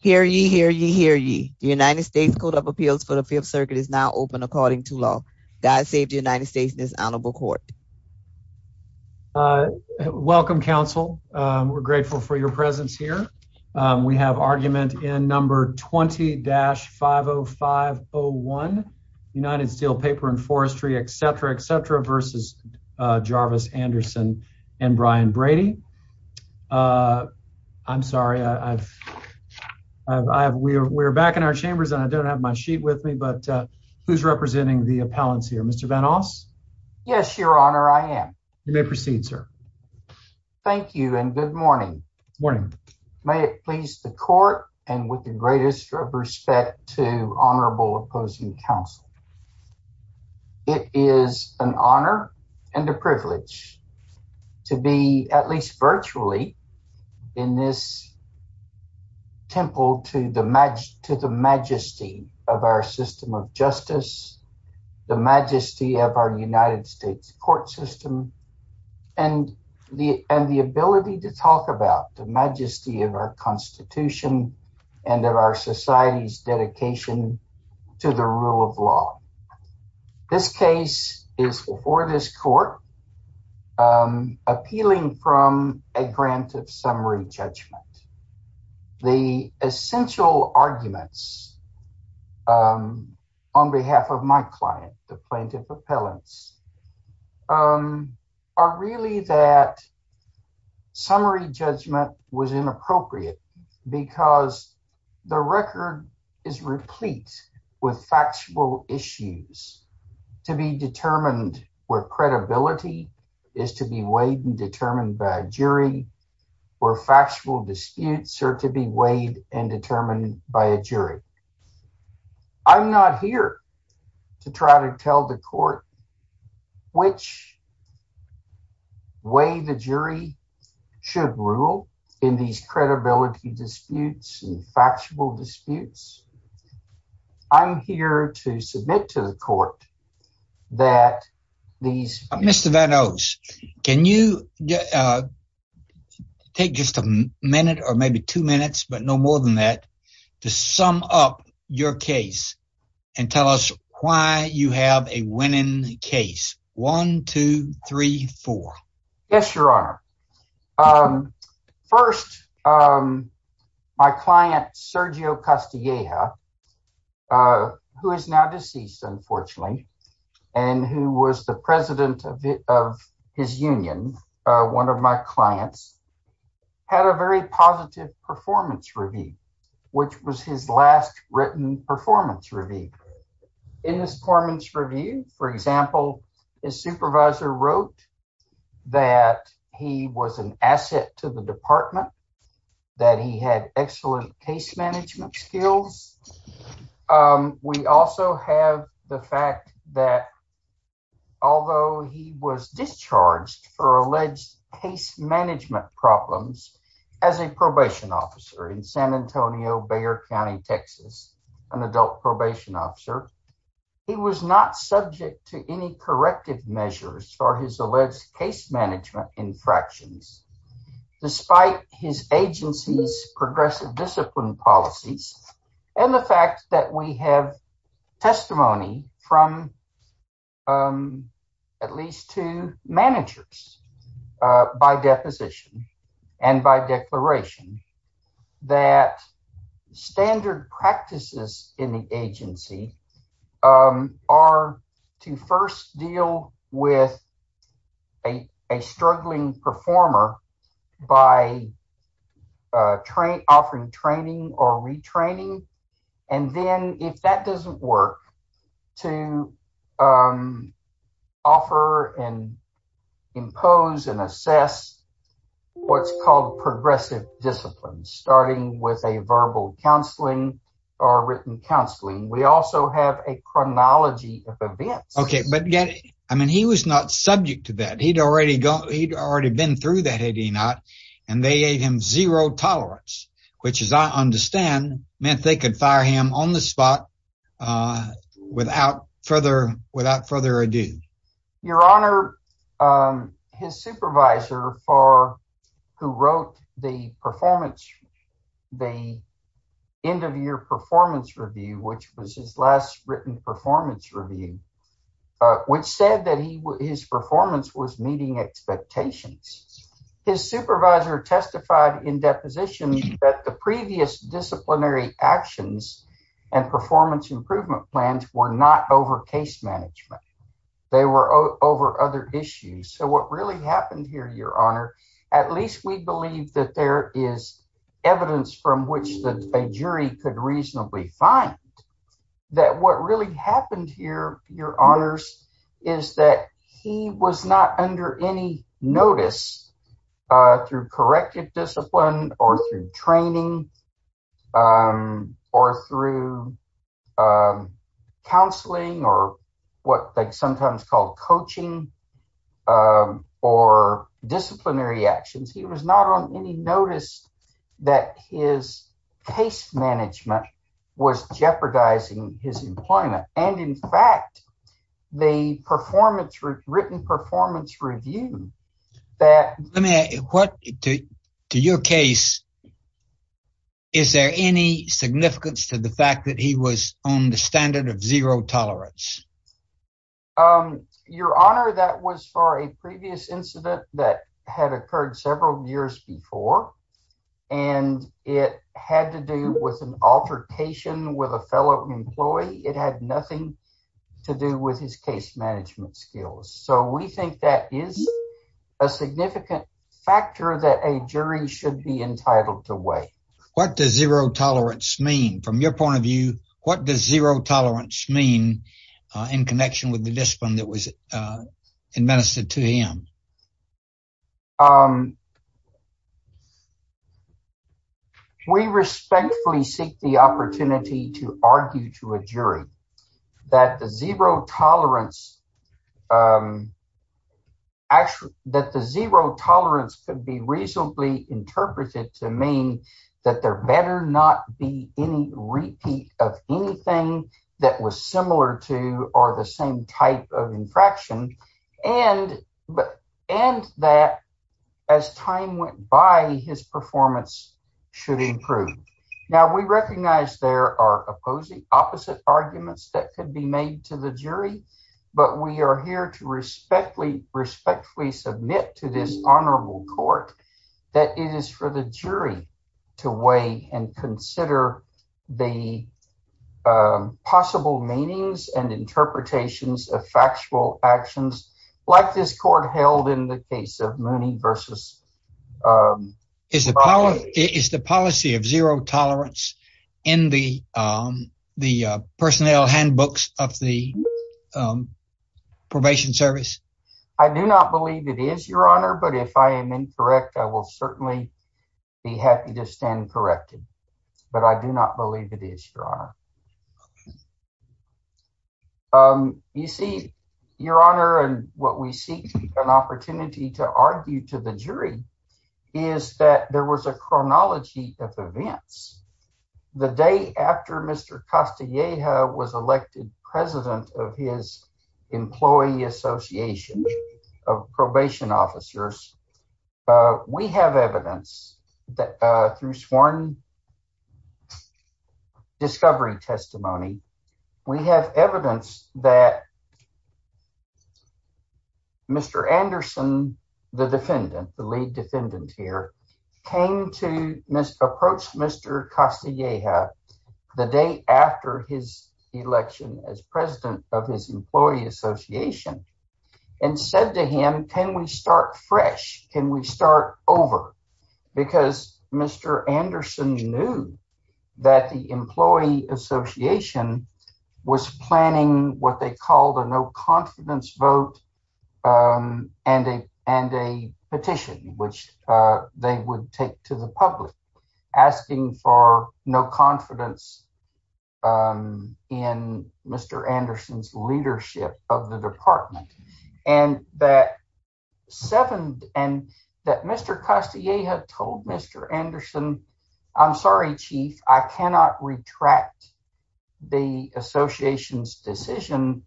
Hear ye, hear ye, hear ye. United States Code of Appeals for the Fifth Circuit is now open according to law. God save the United States and his Honorable Court. Welcome, counsel. We're grateful for your presence here. We have argument in number 20-50501, United Steel, Paper and Forestry, etc., etc. v. Jarvis, Anderson, and Brian Brady. Uh, I'm sorry. I've I've. We're back in our chambers, and I don't have my sheet with me. But who's representing the appellants here? Mr Vanoss? Yes, Your Honor. I am. You may proceed, sir. Thank you. And good morning. Morning. May it please the court and with the greatest respect to virtually in this temple to the match to the majesty of our system of justice, the majesty of our United States court system, and the and the ability to talk about the majesty of our Constitution and of our society's dedication to the rule of law. This case is before this court um appealing from a grant of summary judgment. The essential arguments um on behalf of my client, the plaintiff appellants, um are really that summary judgment was inappropriate because the record is replete with factual issues to be determined where credibility is to be weighed and determined by a jury or factual disputes are to be weighed and determined by a jury. I'm not here to try to tell the court which way the jury should rule in these credibility disputes and factual disputes. I'm here to submit to the court that these Mr Vanoss, can you uh take just a minute or maybe two minutes but no more than that to sum up your case and tell us why you have a winning case. One, two, three, four. Yes, Your and who was the president of his union, one of my clients, had a very positive performance review which was his last written performance review. In his performance review, for example, his supervisor wrote that he was an asset to the department, that he had excellent case management skills. We also have the fact that although he was discharged for alleged case management problems as a probation officer in San Antonio, Bexar County, Texas, an adult probation officer, he was not subject to any corrective measures for his alleged case management infractions. Despite his agency's progressive discipline policies and the fact that we have testimony from at least two managers by deposition and by declaration that standard practices in the agency are to first deal with a struggling performer by offering training or retraining and then if that doesn't work to offer and impose and assess what's called progressive discipline starting with a verbal counseling or written counseling. We also have a chronology of events. Okay, but yet I mean he was not subject to that. He'd already gone, he'd already been through that had he not and they gave him zero tolerance which as I understand meant they could fire him on the spot without further ado. Your honor, his supervisor who wrote the performance, the end of year performance review which was his last written performance review which said that his performance was meeting expectations. His supervisor testified in actions and performance improvement plans were not over case management. They were over other issues. So what really happened here your honor at least we believe that there is evidence from which the jury could reasonably find that what really happened here your honors is that he was not under any notice through corrective discipline or through training or through counseling or what they sometimes call coaching or disciplinary actions. He was not on any notice that his case management was jeopardizing his employment and in fact the performance written performance review that let me ask what to your case is there any significance to the fact that he was on the standard of zero tolerance? Your honor, that was for a previous incident that had occurred several years before and it had to do with an altercation with a fellow employee. It had nothing to do with his case management skills. So we think that is a significant factor that a jury should be entitled to weigh. What does zero tolerance mean from your point of view? What does zero tolerance mean in connection with the discipline that was administered to him? Your honor, we respectfully seek the opportunity to argue to a jury that the zero tolerance actually that the zero tolerance could be reasonably interpreted to mean that there better not be any repeat of anything that was similar to or the same type of infraction and but and that as time went by his performance should improve. Now we recognize there are opposing opposite arguments that could be made to the jury but we are here to respectfully respectfully submit to this honorable court that it is for the jury to weigh and consider the possible meanings and interpretations of factual actions like this court held in the case of Mooney versus is the power is the policy of zero tolerance in the the personnel handbooks of the probation service. I do not believe it is your honor but if I am incorrect I will certainly be happy to stand corrected but I do not believe it is your honor. You see your honor and what we seek an opportunity to argue to the jury is that there was a chronology of events the day after Mr. Castilleja was elected president of his employee association of probation officers. We have evidence that through sworn discovery testimony we have evidence that Mr. Anderson the defendant the lead defendant here came to approach Mr. Castilleja the day after his election as president of his employee association and said to him can we start fresh can we start over because Mr. Anderson knew that the employee association was planning what they called a no confidence vote and a and a petition which they would take to the public asking for no confidence in Mr. Anderson's leadership of the department and that seven and that Mr. Castilleja told Mr. Anderson I'm sorry chief I cannot retract the association's decision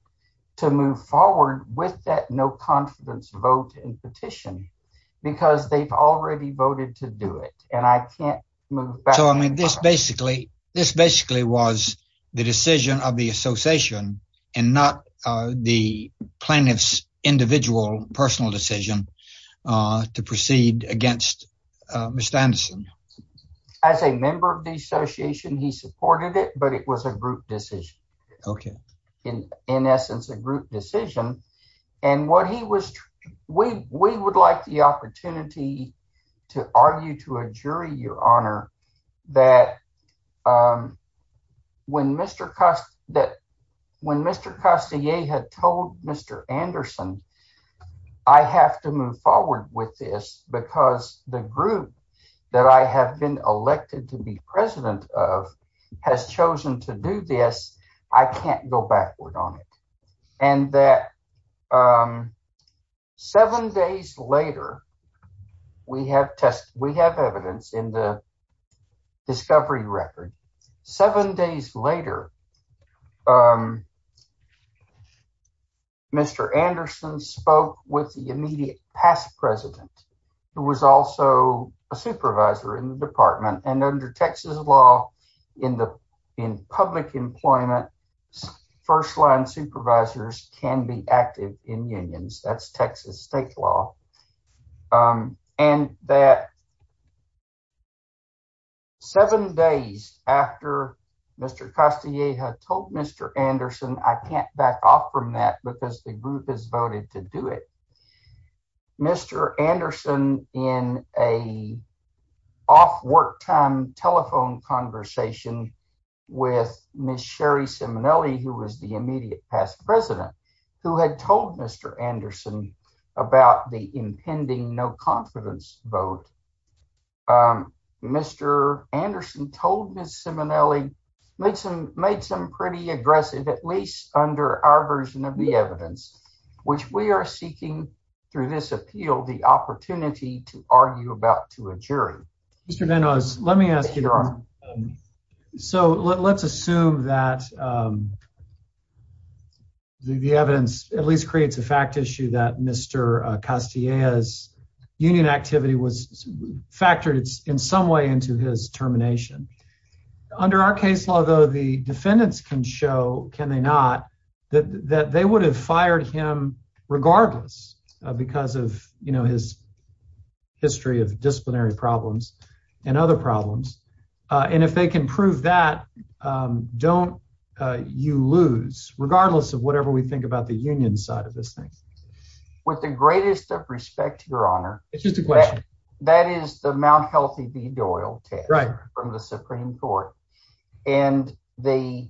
to move forward with that no confidence vote and petition because they've already voted to do it and I can't move so I mean this basically this basically was the decision of the association and not the plaintiff's individual personal decision to proceed against Mr. Anderson as a member of the association he supported it but it was a group decision and what he was we we would like the opportunity to argue to a jury your honor that when Mr. Castilleja had told Mr. Anderson I have to move forward with this because the group that I have been elected to be president of has chosen to do this I can't go backward on it and that seven days later we have test we have evidence in the discovery record seven days later Mr. Anderson spoke with the immediate past president who was also a supervisor in the can be active in unions that's Texas state law and that seven days after Mr. Castilleja had told Mr. Anderson I can't back off from that because the group has voted to do it Mr. Anderson in a off work time telephone conversation with Ms. Sherry Simonelli who was the immediate past president who had told Mr. Anderson about the impending no confidence vote Mr. Anderson told Ms. Simonelli made some made some pretty aggressive at least under our version of the evidence which we are seeking through this so let's assume that the evidence at least creates a fact issue that Mr. Castilleja's union activity was factored in some way into his termination under our case law though the defendants can show can they not that that they would have fired him regardless because of you of disciplinary problems and other problems and if they can prove that don't you lose regardless of whatever we think about the union side of this thing with the greatest of respect to your honor it's just a question that is the mount healthy v doyle test right from the supreme court and the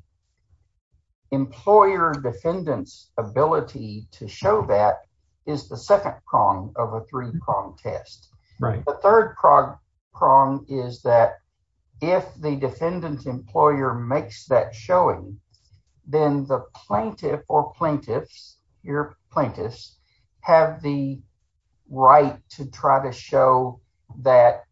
employer defendants ability to show that is the second prong of a three-prong test right the third prong prong is that if the defendant employer makes that showing then the plaintiff or plaintiffs your plaintiffs have the right to try to show that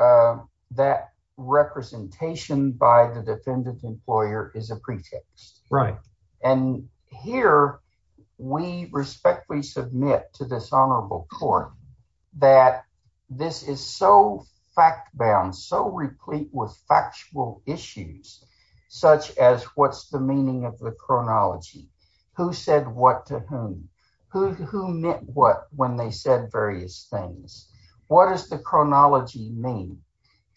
uh that representation by the defendant employer is a pretext right and here we respectfully submit to this honorable court that this is so fact bound so replete with factual issues such as what's the meaning of the chronology who said what to whom who who meant what when they said various things what does the chronology mean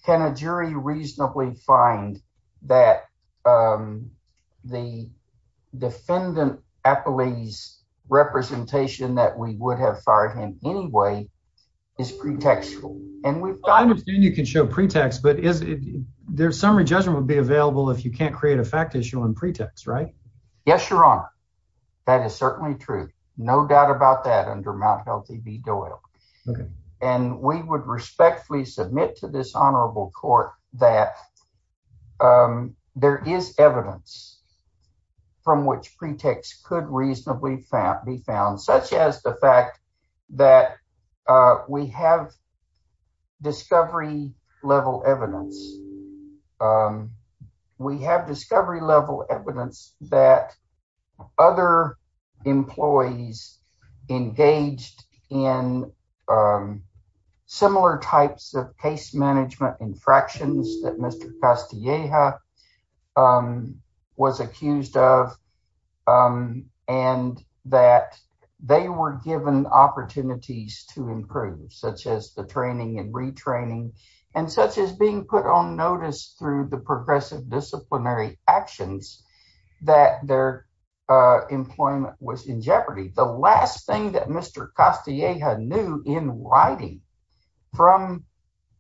can a jury reasonably find that um the defendant affilies representation that we would have fired him anyway is pretextual and we understand you can show pretext but is there summary judgment would be available if you can't create a fact issue on pretext right yes your honor that is certainly true no doubt about that under mount healthy v doyle okay and we would respectfully submit to this honorable court that um there is evidence from which pretext could reasonably be found such as the fact that uh we have discovery level evidence um we have discovery level evidence that other employees engaged in um similar types of case management infractions that mr castilleja um was accused of um and that they were given opportunities to improve such as the training and retraining and such as being put on notice through the progressive disciplinary actions that their uh employment was in jeopardy the last thing that mr castilleja knew in writing from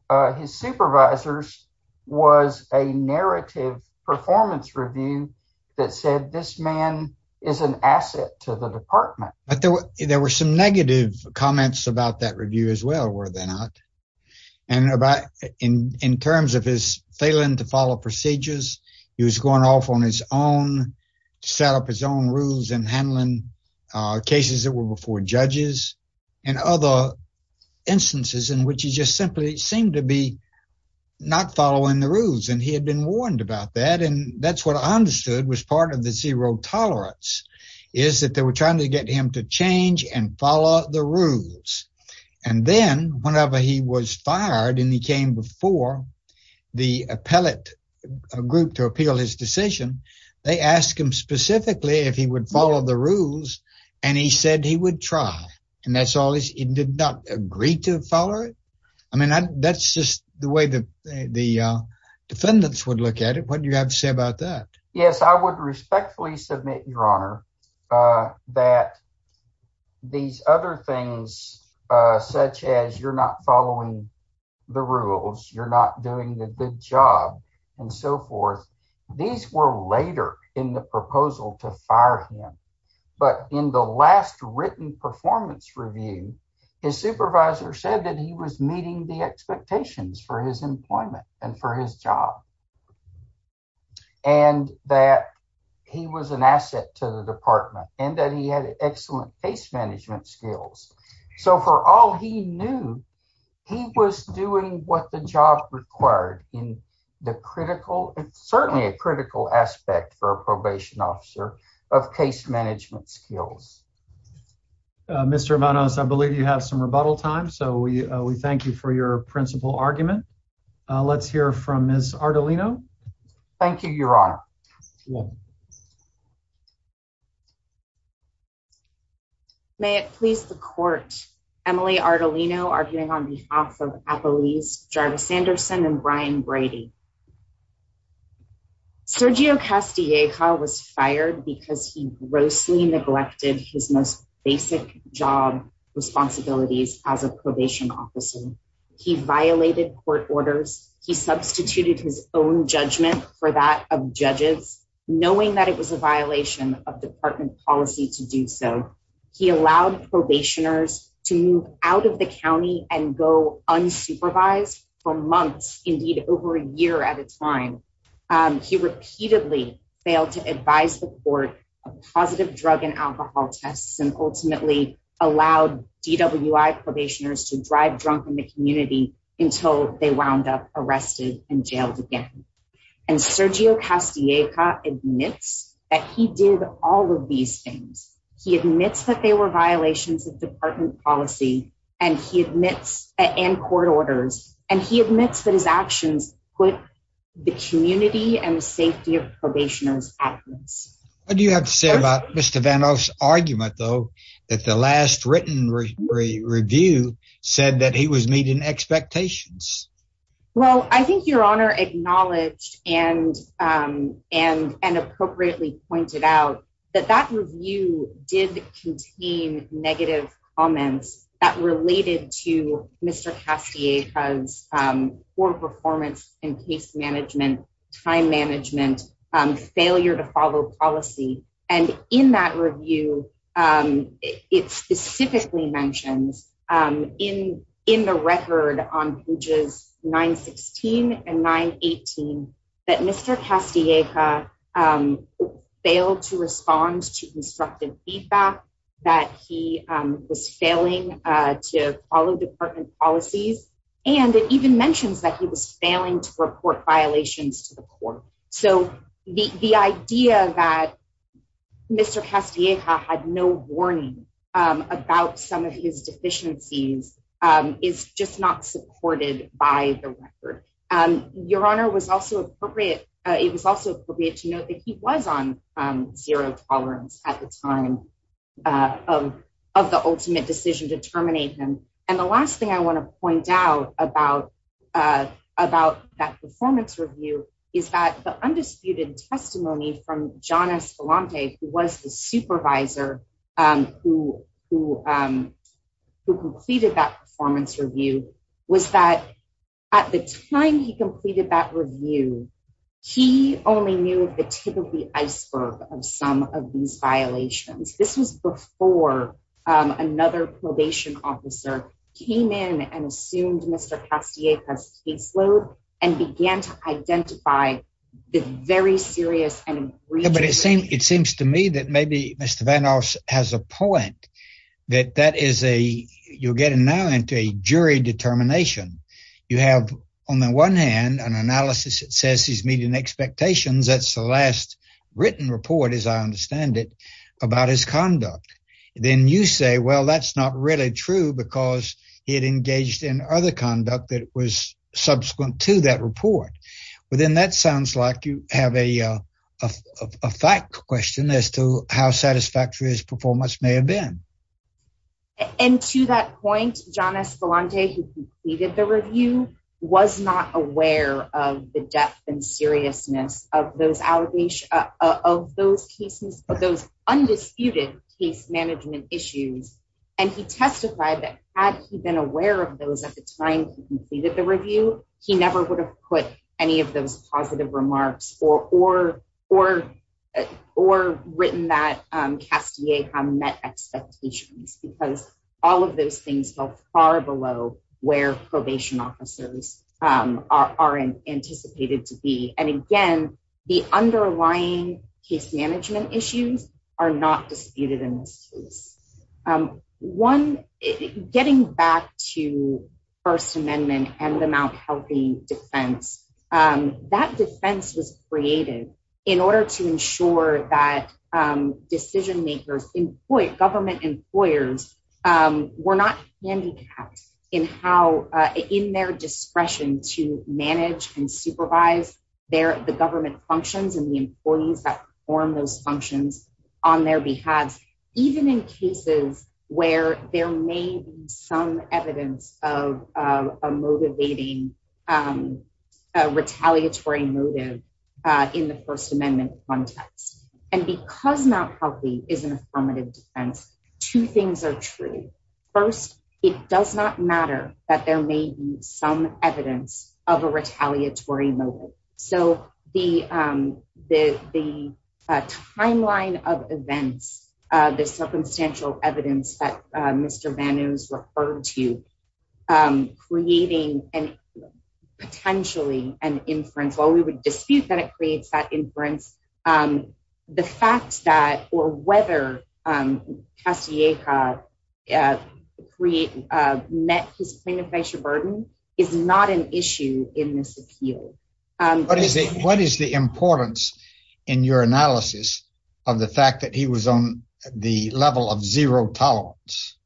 uh his supervisors was a narrative performance review that said this man is an asset to the department but there were there were some negative comments about that review as well were they not and about in in terms of his failing to judges and other instances in which he just simply seemed to be not following the rules and he had been warned about that and that's what i understood was part of the zero tolerance is that they were trying to get him to change and follow the rules and then whenever he was fired and he came before the appellate group to appeal his decision they asked him specifically if he would follow the rules and he said he would try and that's all he did not agree to follow it i mean that's just the way the the defendants would look at it what do you have to say about that yes i would respectfully submit your honor uh that these other things uh such as you're not following the rules you're not doing the good job and so forth these were later in the proposal to fire him but in the last written performance review his supervisor said that he was meeting the expectations for his employment and for his job and that he was an asset to the department and that he had excellent case management skills so for all he knew he was doing what the job required in the critical and certainly a critical aspect for a probation officer of case management skills mr vanos i believe you have some rebuttal time so we we thank you for your principal argument let's hear from miss artelino thank you your honor well may it please the court emily artelino arguing on behalf of at the least jarvis anderson and brian brady sergio castilleja was fired because he grossly neglected his most basic job responsibilities as a probation officer he violated court orders he substituted his own for that of judges knowing that it was a violation of department policy to do so he allowed probationers to move out of the county and go unsupervised for months indeed over a year at a time he repeatedly failed to advise the court of positive drug and alcohol tests and ultimately allowed dwi probationers to drive drunk in the community until they wound up arrested and jailed again and sergio castilleja admits that he did all of these things he admits that they were violations of department policy and he admits and court orders and he admits that his actions put the community and the safety of probationers at risk what do you have to say about mr vanos argument though that the last written review said that he was meeting expectations well i think your honor acknowledged and um and and appropriately pointed out that that review did contain negative comments that related to mr castilleja's um poor performance in case management time management um failure to follow policy and in that review um it specifically mentions um in in the record on pages 9 16 and 9 18 that mr castilleja failed to respond to instructive feedback that he was failing uh to follow department policies and it even mentions that he was failing to report violations to the court so the the idea that mr castilleja had no warning um about some of his deficiencies um is just not supported by the record um your honor was also appropriate uh it was also appropriate to note that he was on um zero tolerance at the time uh of of the ultimate decision to terminate him and the last thing i want to point out about uh about that performance review is that the undisputed testimony from john escalante who was the supervisor um who who um who completed that performance review was that at the time he completed that review he only knew of the tip of the iceberg of some of these violations this was before um another probation officer came in and assumed mr castilleja's caseload and began to maybe mr vanoss has a point that that is a you're getting now into a jury determination you have on the one hand an analysis that says he's meeting expectations that's the last written report as i understand it about his conduct then you say well that's not really true because he had engaged in other conduct that was subsequent to that report but then that sounds like you have a a fact question as to how satisfactory his performance may have been and to that point john escalante who completed the review was not aware of the depth and seriousness of those allegations of those cases of those undisputed case management issues and he testified that had he been aware of those at the time he completed the review he never would put any of those positive remarks or or or or written that um castilleja met expectations because all of those things fell far below where probation officers um are anticipated to be and again the underlying case management issues are not disputed in this case um one getting back to and the mount healthy defense um that defense was created in order to ensure that um decision makers employed government employers um were not handicapped in how uh in their discretion to manage and supervise their the government functions and the employees that perform those a motivating um a retaliatory motive uh in the first amendment context and because mount healthy is an affirmative defense two things are true first it does not matter that there may be some evidence of a retaliatory motive so the um the the timeline of events uh the circumstantial evidence that uh mr vanu's referred to um creating and potentially an inference while we would dispute that it creates that inference um the fact that or whether um castilleja create uh met his planification burden is not an issue in this appeal um what is it what is the importance in your analysis of the fact that he was on the level of zero tolerance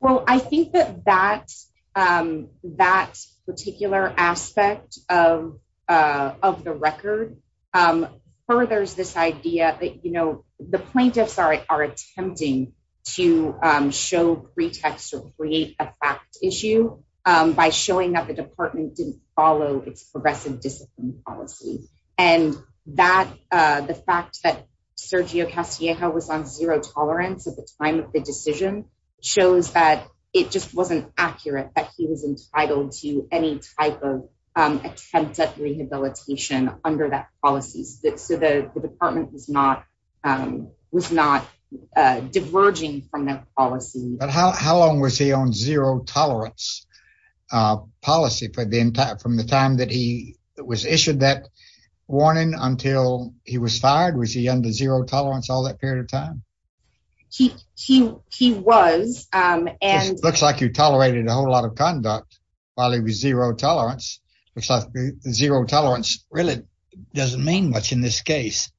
well i think that that um that particular aspect of uh of the record um furthers this idea that you know the plaintiffs are are attempting to um show pretext or create a fact issue um by showing that the department didn't follow its progressive discipline policy and that uh the fact that sergio castilleja was on zero tolerance at the time of the decision shows that it just wasn't accurate that he was entitled to any type of um attempt at rehabilitation under that policies that so the department was not um was not uh diverging from but how how long was he on zero tolerance uh policy for the entire from the time that he was issued that warning until he was fired was he under zero tolerance all that period of time he he he was um and looks like you tolerated a whole lot of conduct while he was zero tolerance looks like zero tolerance really doesn't mean much in this case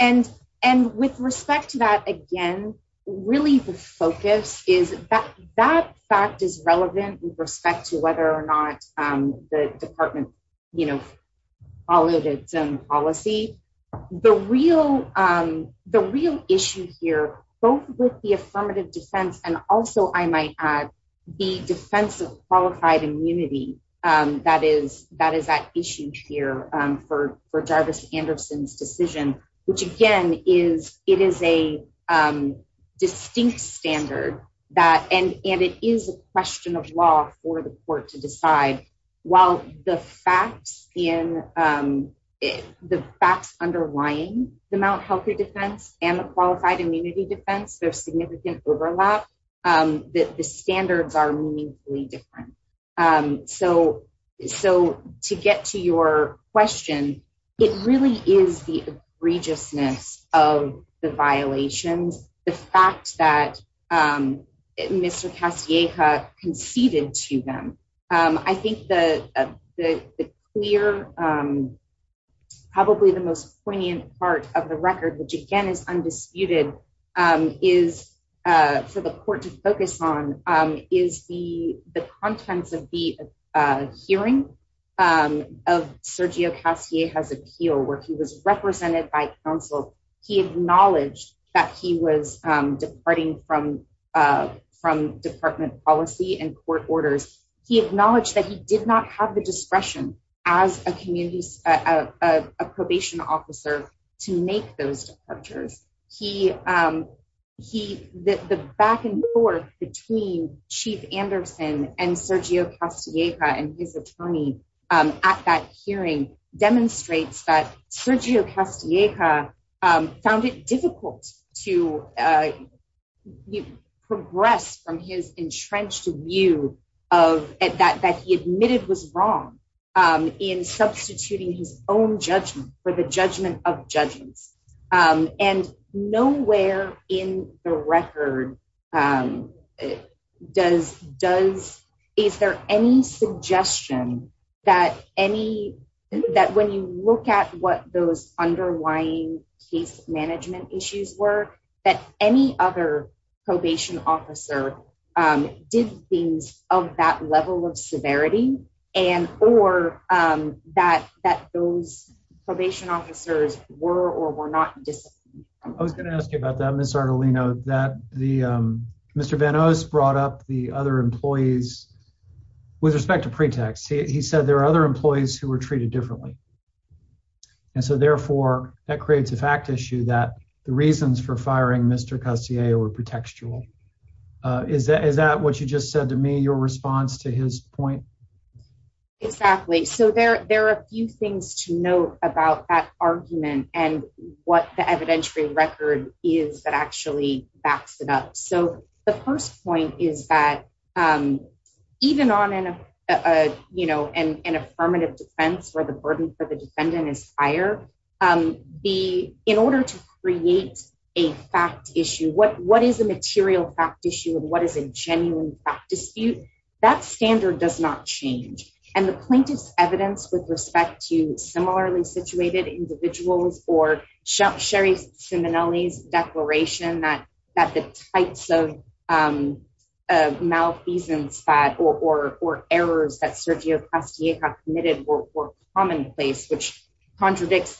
and and with respect to that again really the focus is that that fact is relevant with respect to whether or not um the department you know followed its own policy the real um the real issue here both with the affirmative defense and also i might add the defense of qualified immunity um that is that is that issue here um anderson's decision which again is it is a um distinct standard that and and it is a question of law for the court to decide while the facts in um the facts underlying the mount health care defense and the qualified immunity defense there's significant overlap um that the standards are it really is the egregiousness of the violations the fact that um mr castilleja conceded to them um i think the the clear um probably the most poignant part of the record which again is he was represented by counsel he acknowledged that he was um departing from uh from department policy and court orders he acknowledged that he did not have the discretion as a community a probation officer to make those departures he um he the the back and forth between chief sergio castilleja um found it difficult to uh progress from his entrenched view of that that he admitted was wrong um in substituting his own judgment for the judgment of judgments um and nowhere in the record um does does is there any suggestion that any that when you look at what those underlying case management issues were that any other probation officer um did things of that level of severity and or um that that those probation officers were or were not just i was going to ask you about that miss artelino that the um mr van os brought up the other employees with respect to pretext he said there are other employees who were treated differently and so therefore that creates a fact issue that the reasons for firing mr castilleja were pretextual uh is that is that what you just said to me your response to his point exactly so there there are a few things to note about that argument and what the evidentiary record is that actually backs it up so the first point is that um even on an uh a you know an affirmative defense where the burden for the defendant is higher um be in order to create a fact issue what what is a material fact issue and what is a genuine fact dispute that standard does not change and the plaintiff's evidence with respect to malfeasance that or or or errors that sergio castilleja committed were commonplace which contradicts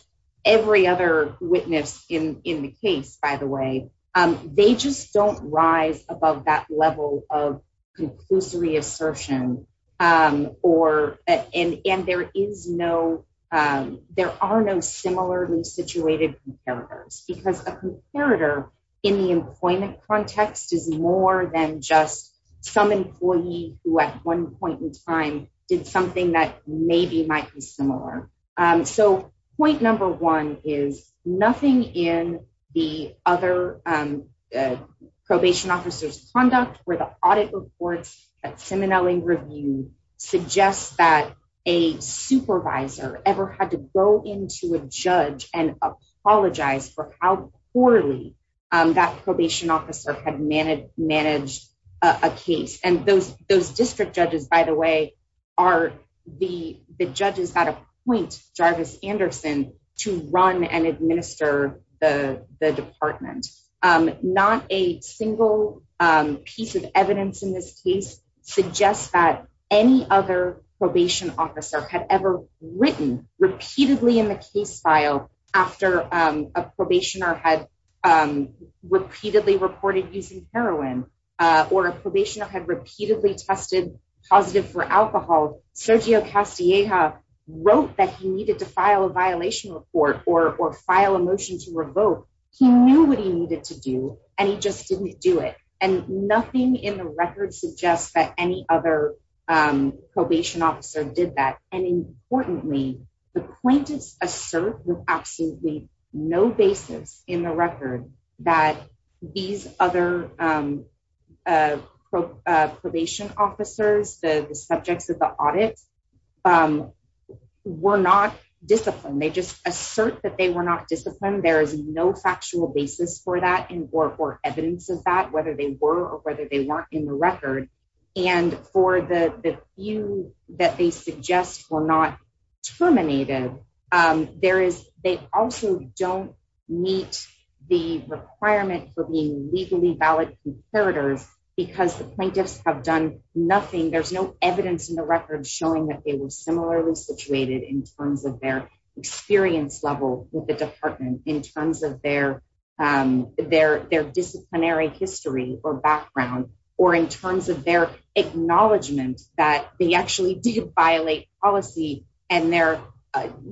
every other witness in in the case by the way um they just don't rise above that level of conclusory assertion um or and and there is no um there are no similarly situated because a comparator in the employment context is more than just some employee who at one point in time did something that maybe might be similar um so point number one is nothing in the other um probation officer's conduct where the audit reports at simonelli review suggests that a for how poorly um that probation officer had managed managed a case and those those district judges by the way are the the judges that appoint jarvis anderson to run and administer the the department um not a single um piece of evidence in this case suggests that any other probation officer had ever written repeatedly in the case file after um a probationer had um repeatedly reported using heroin uh or a probationer had repeatedly tested positive for alcohol sergio castilleja wrote that he needed to file a violation report or or file a motion to revoke he knew what he needed to do and he just didn't do it and nothing in the record suggests that any other um probation officer did that and importantly the plaintiff's assert with absolutely no basis in the record that these other um uh probation officers the the subjects of the audit um were not disciplined they just assert that they were not disciplined there is no factual basis for that and or for evidence of that whether they were or whether they weren't in and for the the few that they suggest were not terminated um there is they also don't meet the requirement for being legally valid comparators because the plaintiffs have done nothing there's no evidence in the record showing that they were similarly situated in terms of their experience level with the department in terms of their um their their disciplinary history or background or in terms of their acknowledgement that they actually did violate policy and they're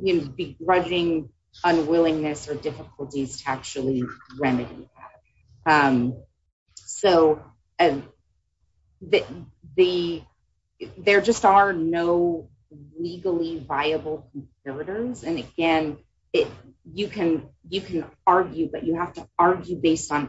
you know begrudging unwillingness or difficulties to actually remedy that um so that the there just are no legally viable comparators and again it you can you can on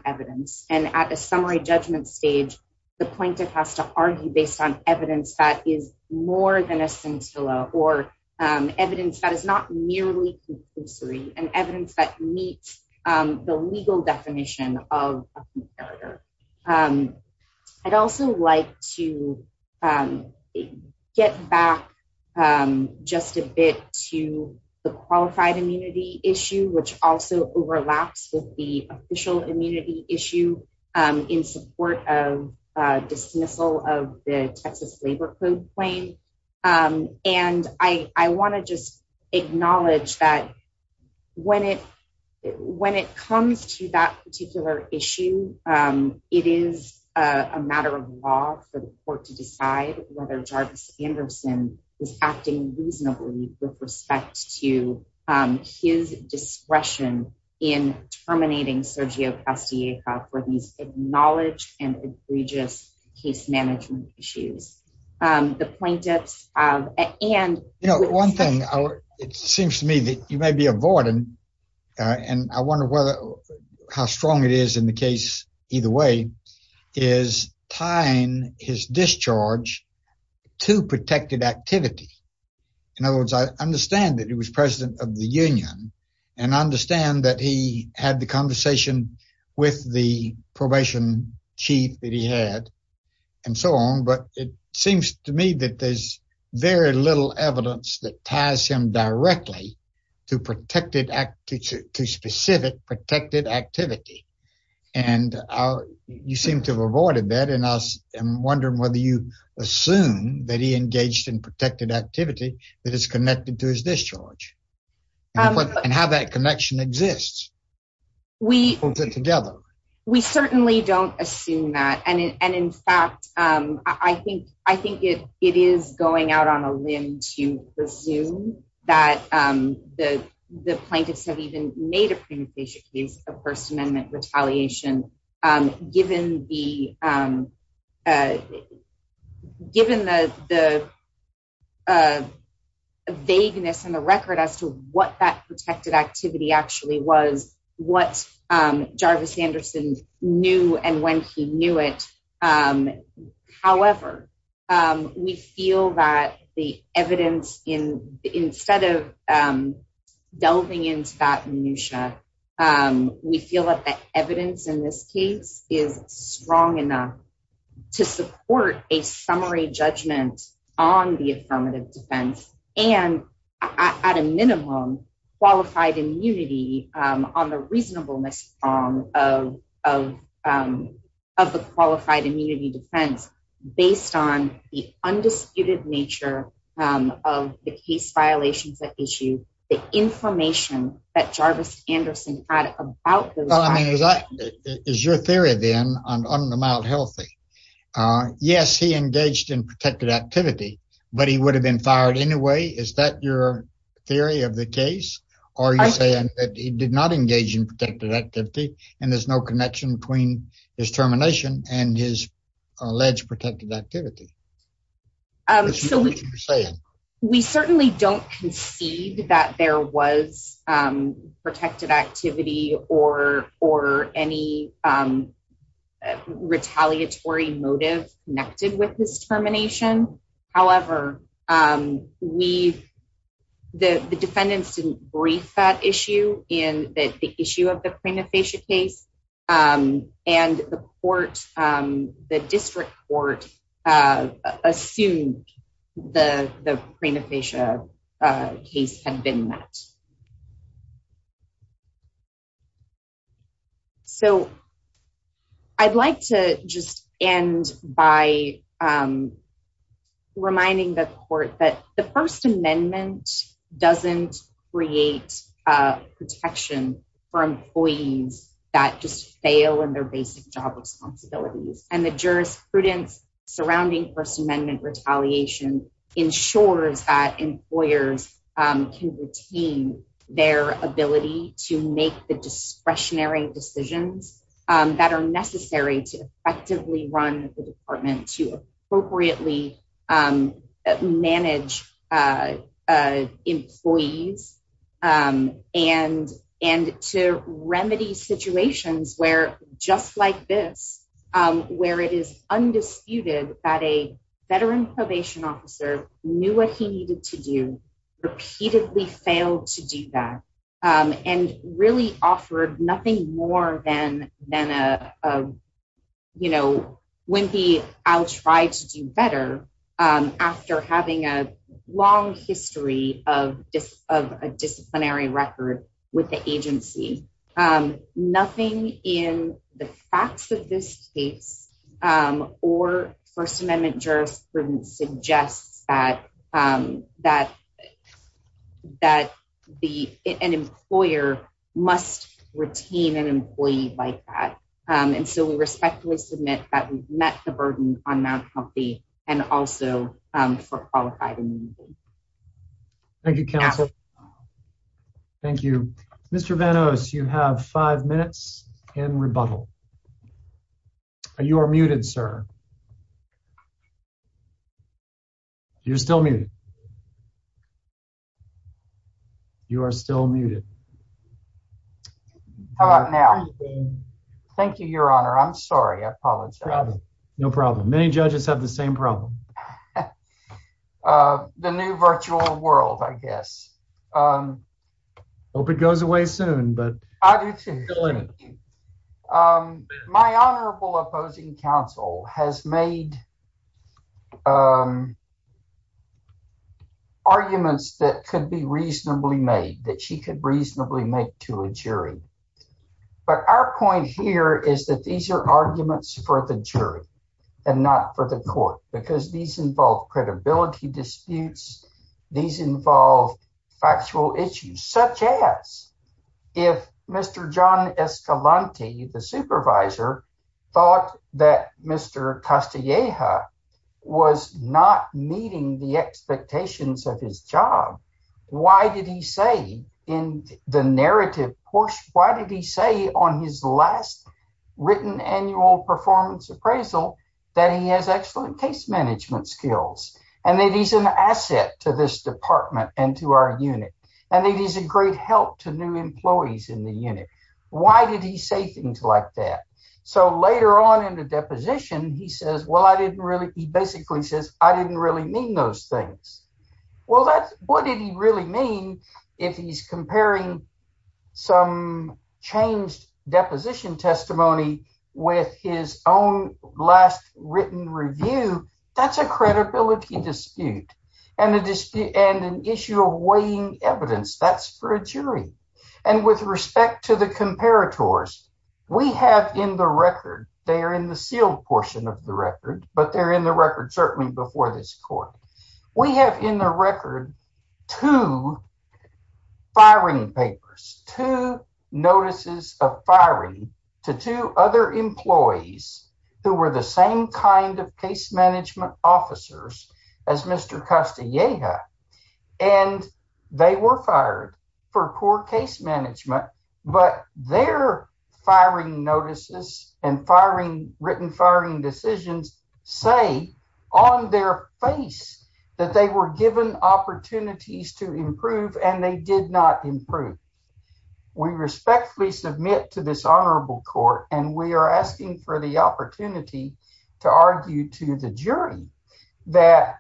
evidence and at a summary judgment stage the plaintiff has to argue based on evidence that is more than a scintilla or um evidence that is not merely conclusory and evidence that meets um the legal definition of a comparator um i'd also like to um get back um just a bit to the qualified immunity issue which also overlaps with the official immunity issue in support of uh dismissal of the texas labor code claim um and i i want to just acknowledge that when it when it comes to that particular issue um it is a matter of law for the court to decide whether jarvis anderson is acting reasonably with respect to um his discretion in terminating sergio castilleja for these acknowledged and egregious case management issues um the plaintiffs of and you know one thing it seems to me that you may be avoiding uh and i wonder whether how strong it is in the case either way is tying his discharge to protected activity in other words i understand that he was president of the union and i understand that he had the conversation with the probation chief that he had and so on but it seems to me that there's very little evidence that ties him directly to protected act to specific protected activity and you seem to have avoided that and i'm wondering whether you assume that he engaged in protected activity that is connected to his discharge and how that connection exists we put it together we certainly don't assume that and and in fact um i think i think it it is going out on a limb to assume that um the the plaintiffs have even made a premonition case of first amendment retaliation um given the um uh given the the uh vagueness in the record as to what that protected activity actually was what um jarvis anderson knew and when he knew it um however um we feel that the evidence in instead of um delving into that minutiae um we feel that the evidence in this case is strong enough to support a summary judgment on the affirmative defense and at a minimum qualified immunity um on the reasonableness form of of um of the qualified immunity defense based on the undisputed nature um of the case violations that issue the information that jarvis anderson had about those well i mean is that is your theory then on the healthy uh yes he engaged in protected activity but he would have been fired anyway is that your theory of the case or you're saying that he did not engage in protected activity and there's no connection between his termination and his alleged protected activity we certainly don't concede that there was um protected activity or or any um retaliatory motive connected with this termination however um we the the defendants didn't brief that issue in the issue of the craniofacial case um and the court um the district court uh assumed the the craniofacial uh case had been met so i'd like to just end by um reminding the court that the first amendment doesn't create uh protection for employees that just fail in their basic job responsibilities and the jurisprudence surrounding first amendment retaliation ensures that employers um can retain their ability to make the discretionary decisions um that are necessary to effectively run the department to appropriately um manage uh uh employees um and and to remedy situations where just like this um where it is undisputed that a veteran probation officer knew what he needed to do repeatedly failed to do that um and really offered nothing more than than a uh you know wimpy i'll try to do better um after having a long history of just of a disciplinary record with the agency um nothing in the facts of this case um or first amendment jurisprudence suggests that um that that the an employer must retain an employee like that um and so we respectfully submit that we've met the burden on mount comfy and also um for qualified immunity thank you counsel thank you mr van os you have five minutes in rebuttal you are muted sir you're still muted you are still muted how about now thank you your honor i'm sorry i apologize no problem many judges have the same problem uh the new virtual world i guess um hope it goes away soon but i do too um my honorable opposing counsel has made um arguments that could be reasonably made that she could reasonably make to a jury but our point here is that these are arguments for the jury and not for the court because these involve credibility disputes these involve factual issues such as if mr john escalante the supervisor thought that mr castilleja was not meeting the expectations of his job why did he say in the narrative portion why did he say on his last written annual performance appraisal that he has excellent case management skills and that he's an asset to this department and to our unit and it is a great help to new employees in the unit why did he say things like that so later on in the deposition he says well i didn't really he basically says i didn't really mean those things well that's what did he really mean if he's comparing some changed deposition testimony with his own last written review that's a credibility dispute and a dispute and an issue of weighing evidence that's for a jury and with respect to the comparators we have in the record they are in the sealed portion of the record but they're in the record certainly before this court we have in the record two firing papers two notices of firing to two other employees who were the same kind of case management officers as mr castilleja and they were fired for poor written firing decisions say on their face that they were given opportunities to improve and they did not improve we respectfully submit to this honorable court and we are asking for the opportunity to argue to the jury that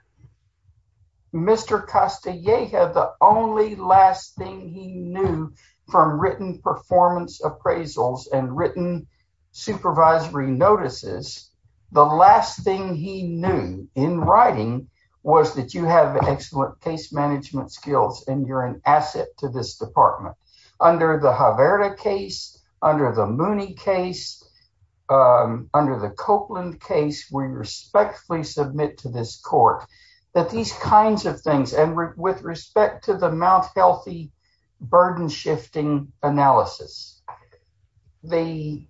mr castilleja the only last thing he knew from written performance appraisals and written supervisory notices the last thing he knew in writing was that you have excellent case management skills and you're an asset to this department under the haverda case under the mooney case under the copeland case we respectfully submit to this court that these kinds of things and with respect to the mouth healthy burden shifting analysis the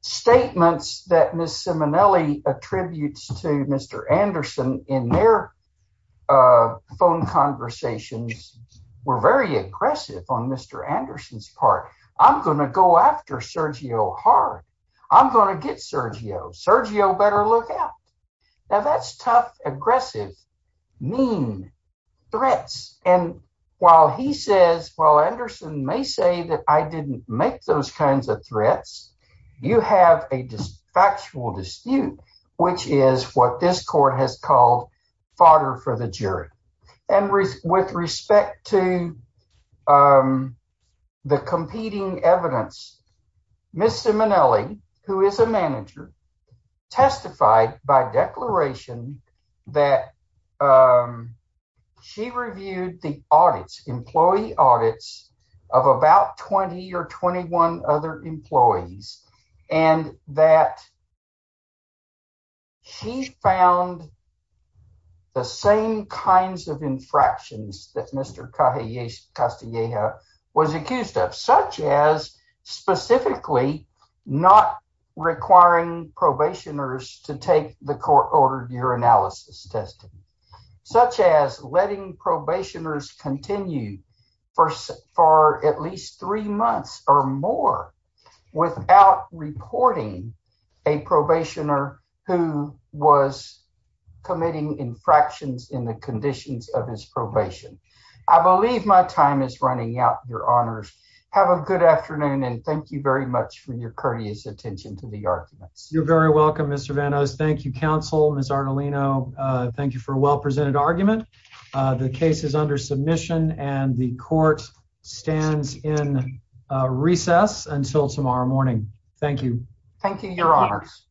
statements that miss simonelli attributes to mr anderson in their phone conversations were very aggressive on mr anderson's part i'm gonna go after sergio hard i'm gonna get sergio sergio better look out now that's tough aggressive mean threats and while he says while anderson may say that i didn't make those kinds of threats you have a factual dispute which is what this court has called fodder for the jury and with respect to um the competing evidence miss simonelli who is a manager testified by declaration that she reviewed the audits employee audits of about 20 or 21 other employees and that she found the same kinds of infractions that mr castilleja was accused of such as specifically not requiring probationers to take the court ordered urinalysis testing such as letting a probationer who was committing infractions in the conditions of his probation i believe my time is running out your honors have a good afternoon and thank you very much for your courteous attention to the arguments you're very welcome mr van o's thank you counsel miss artelino thank you for a well-presented argument the case is under submission and the court stands in recess until tomorrow morning thank you thank you your honors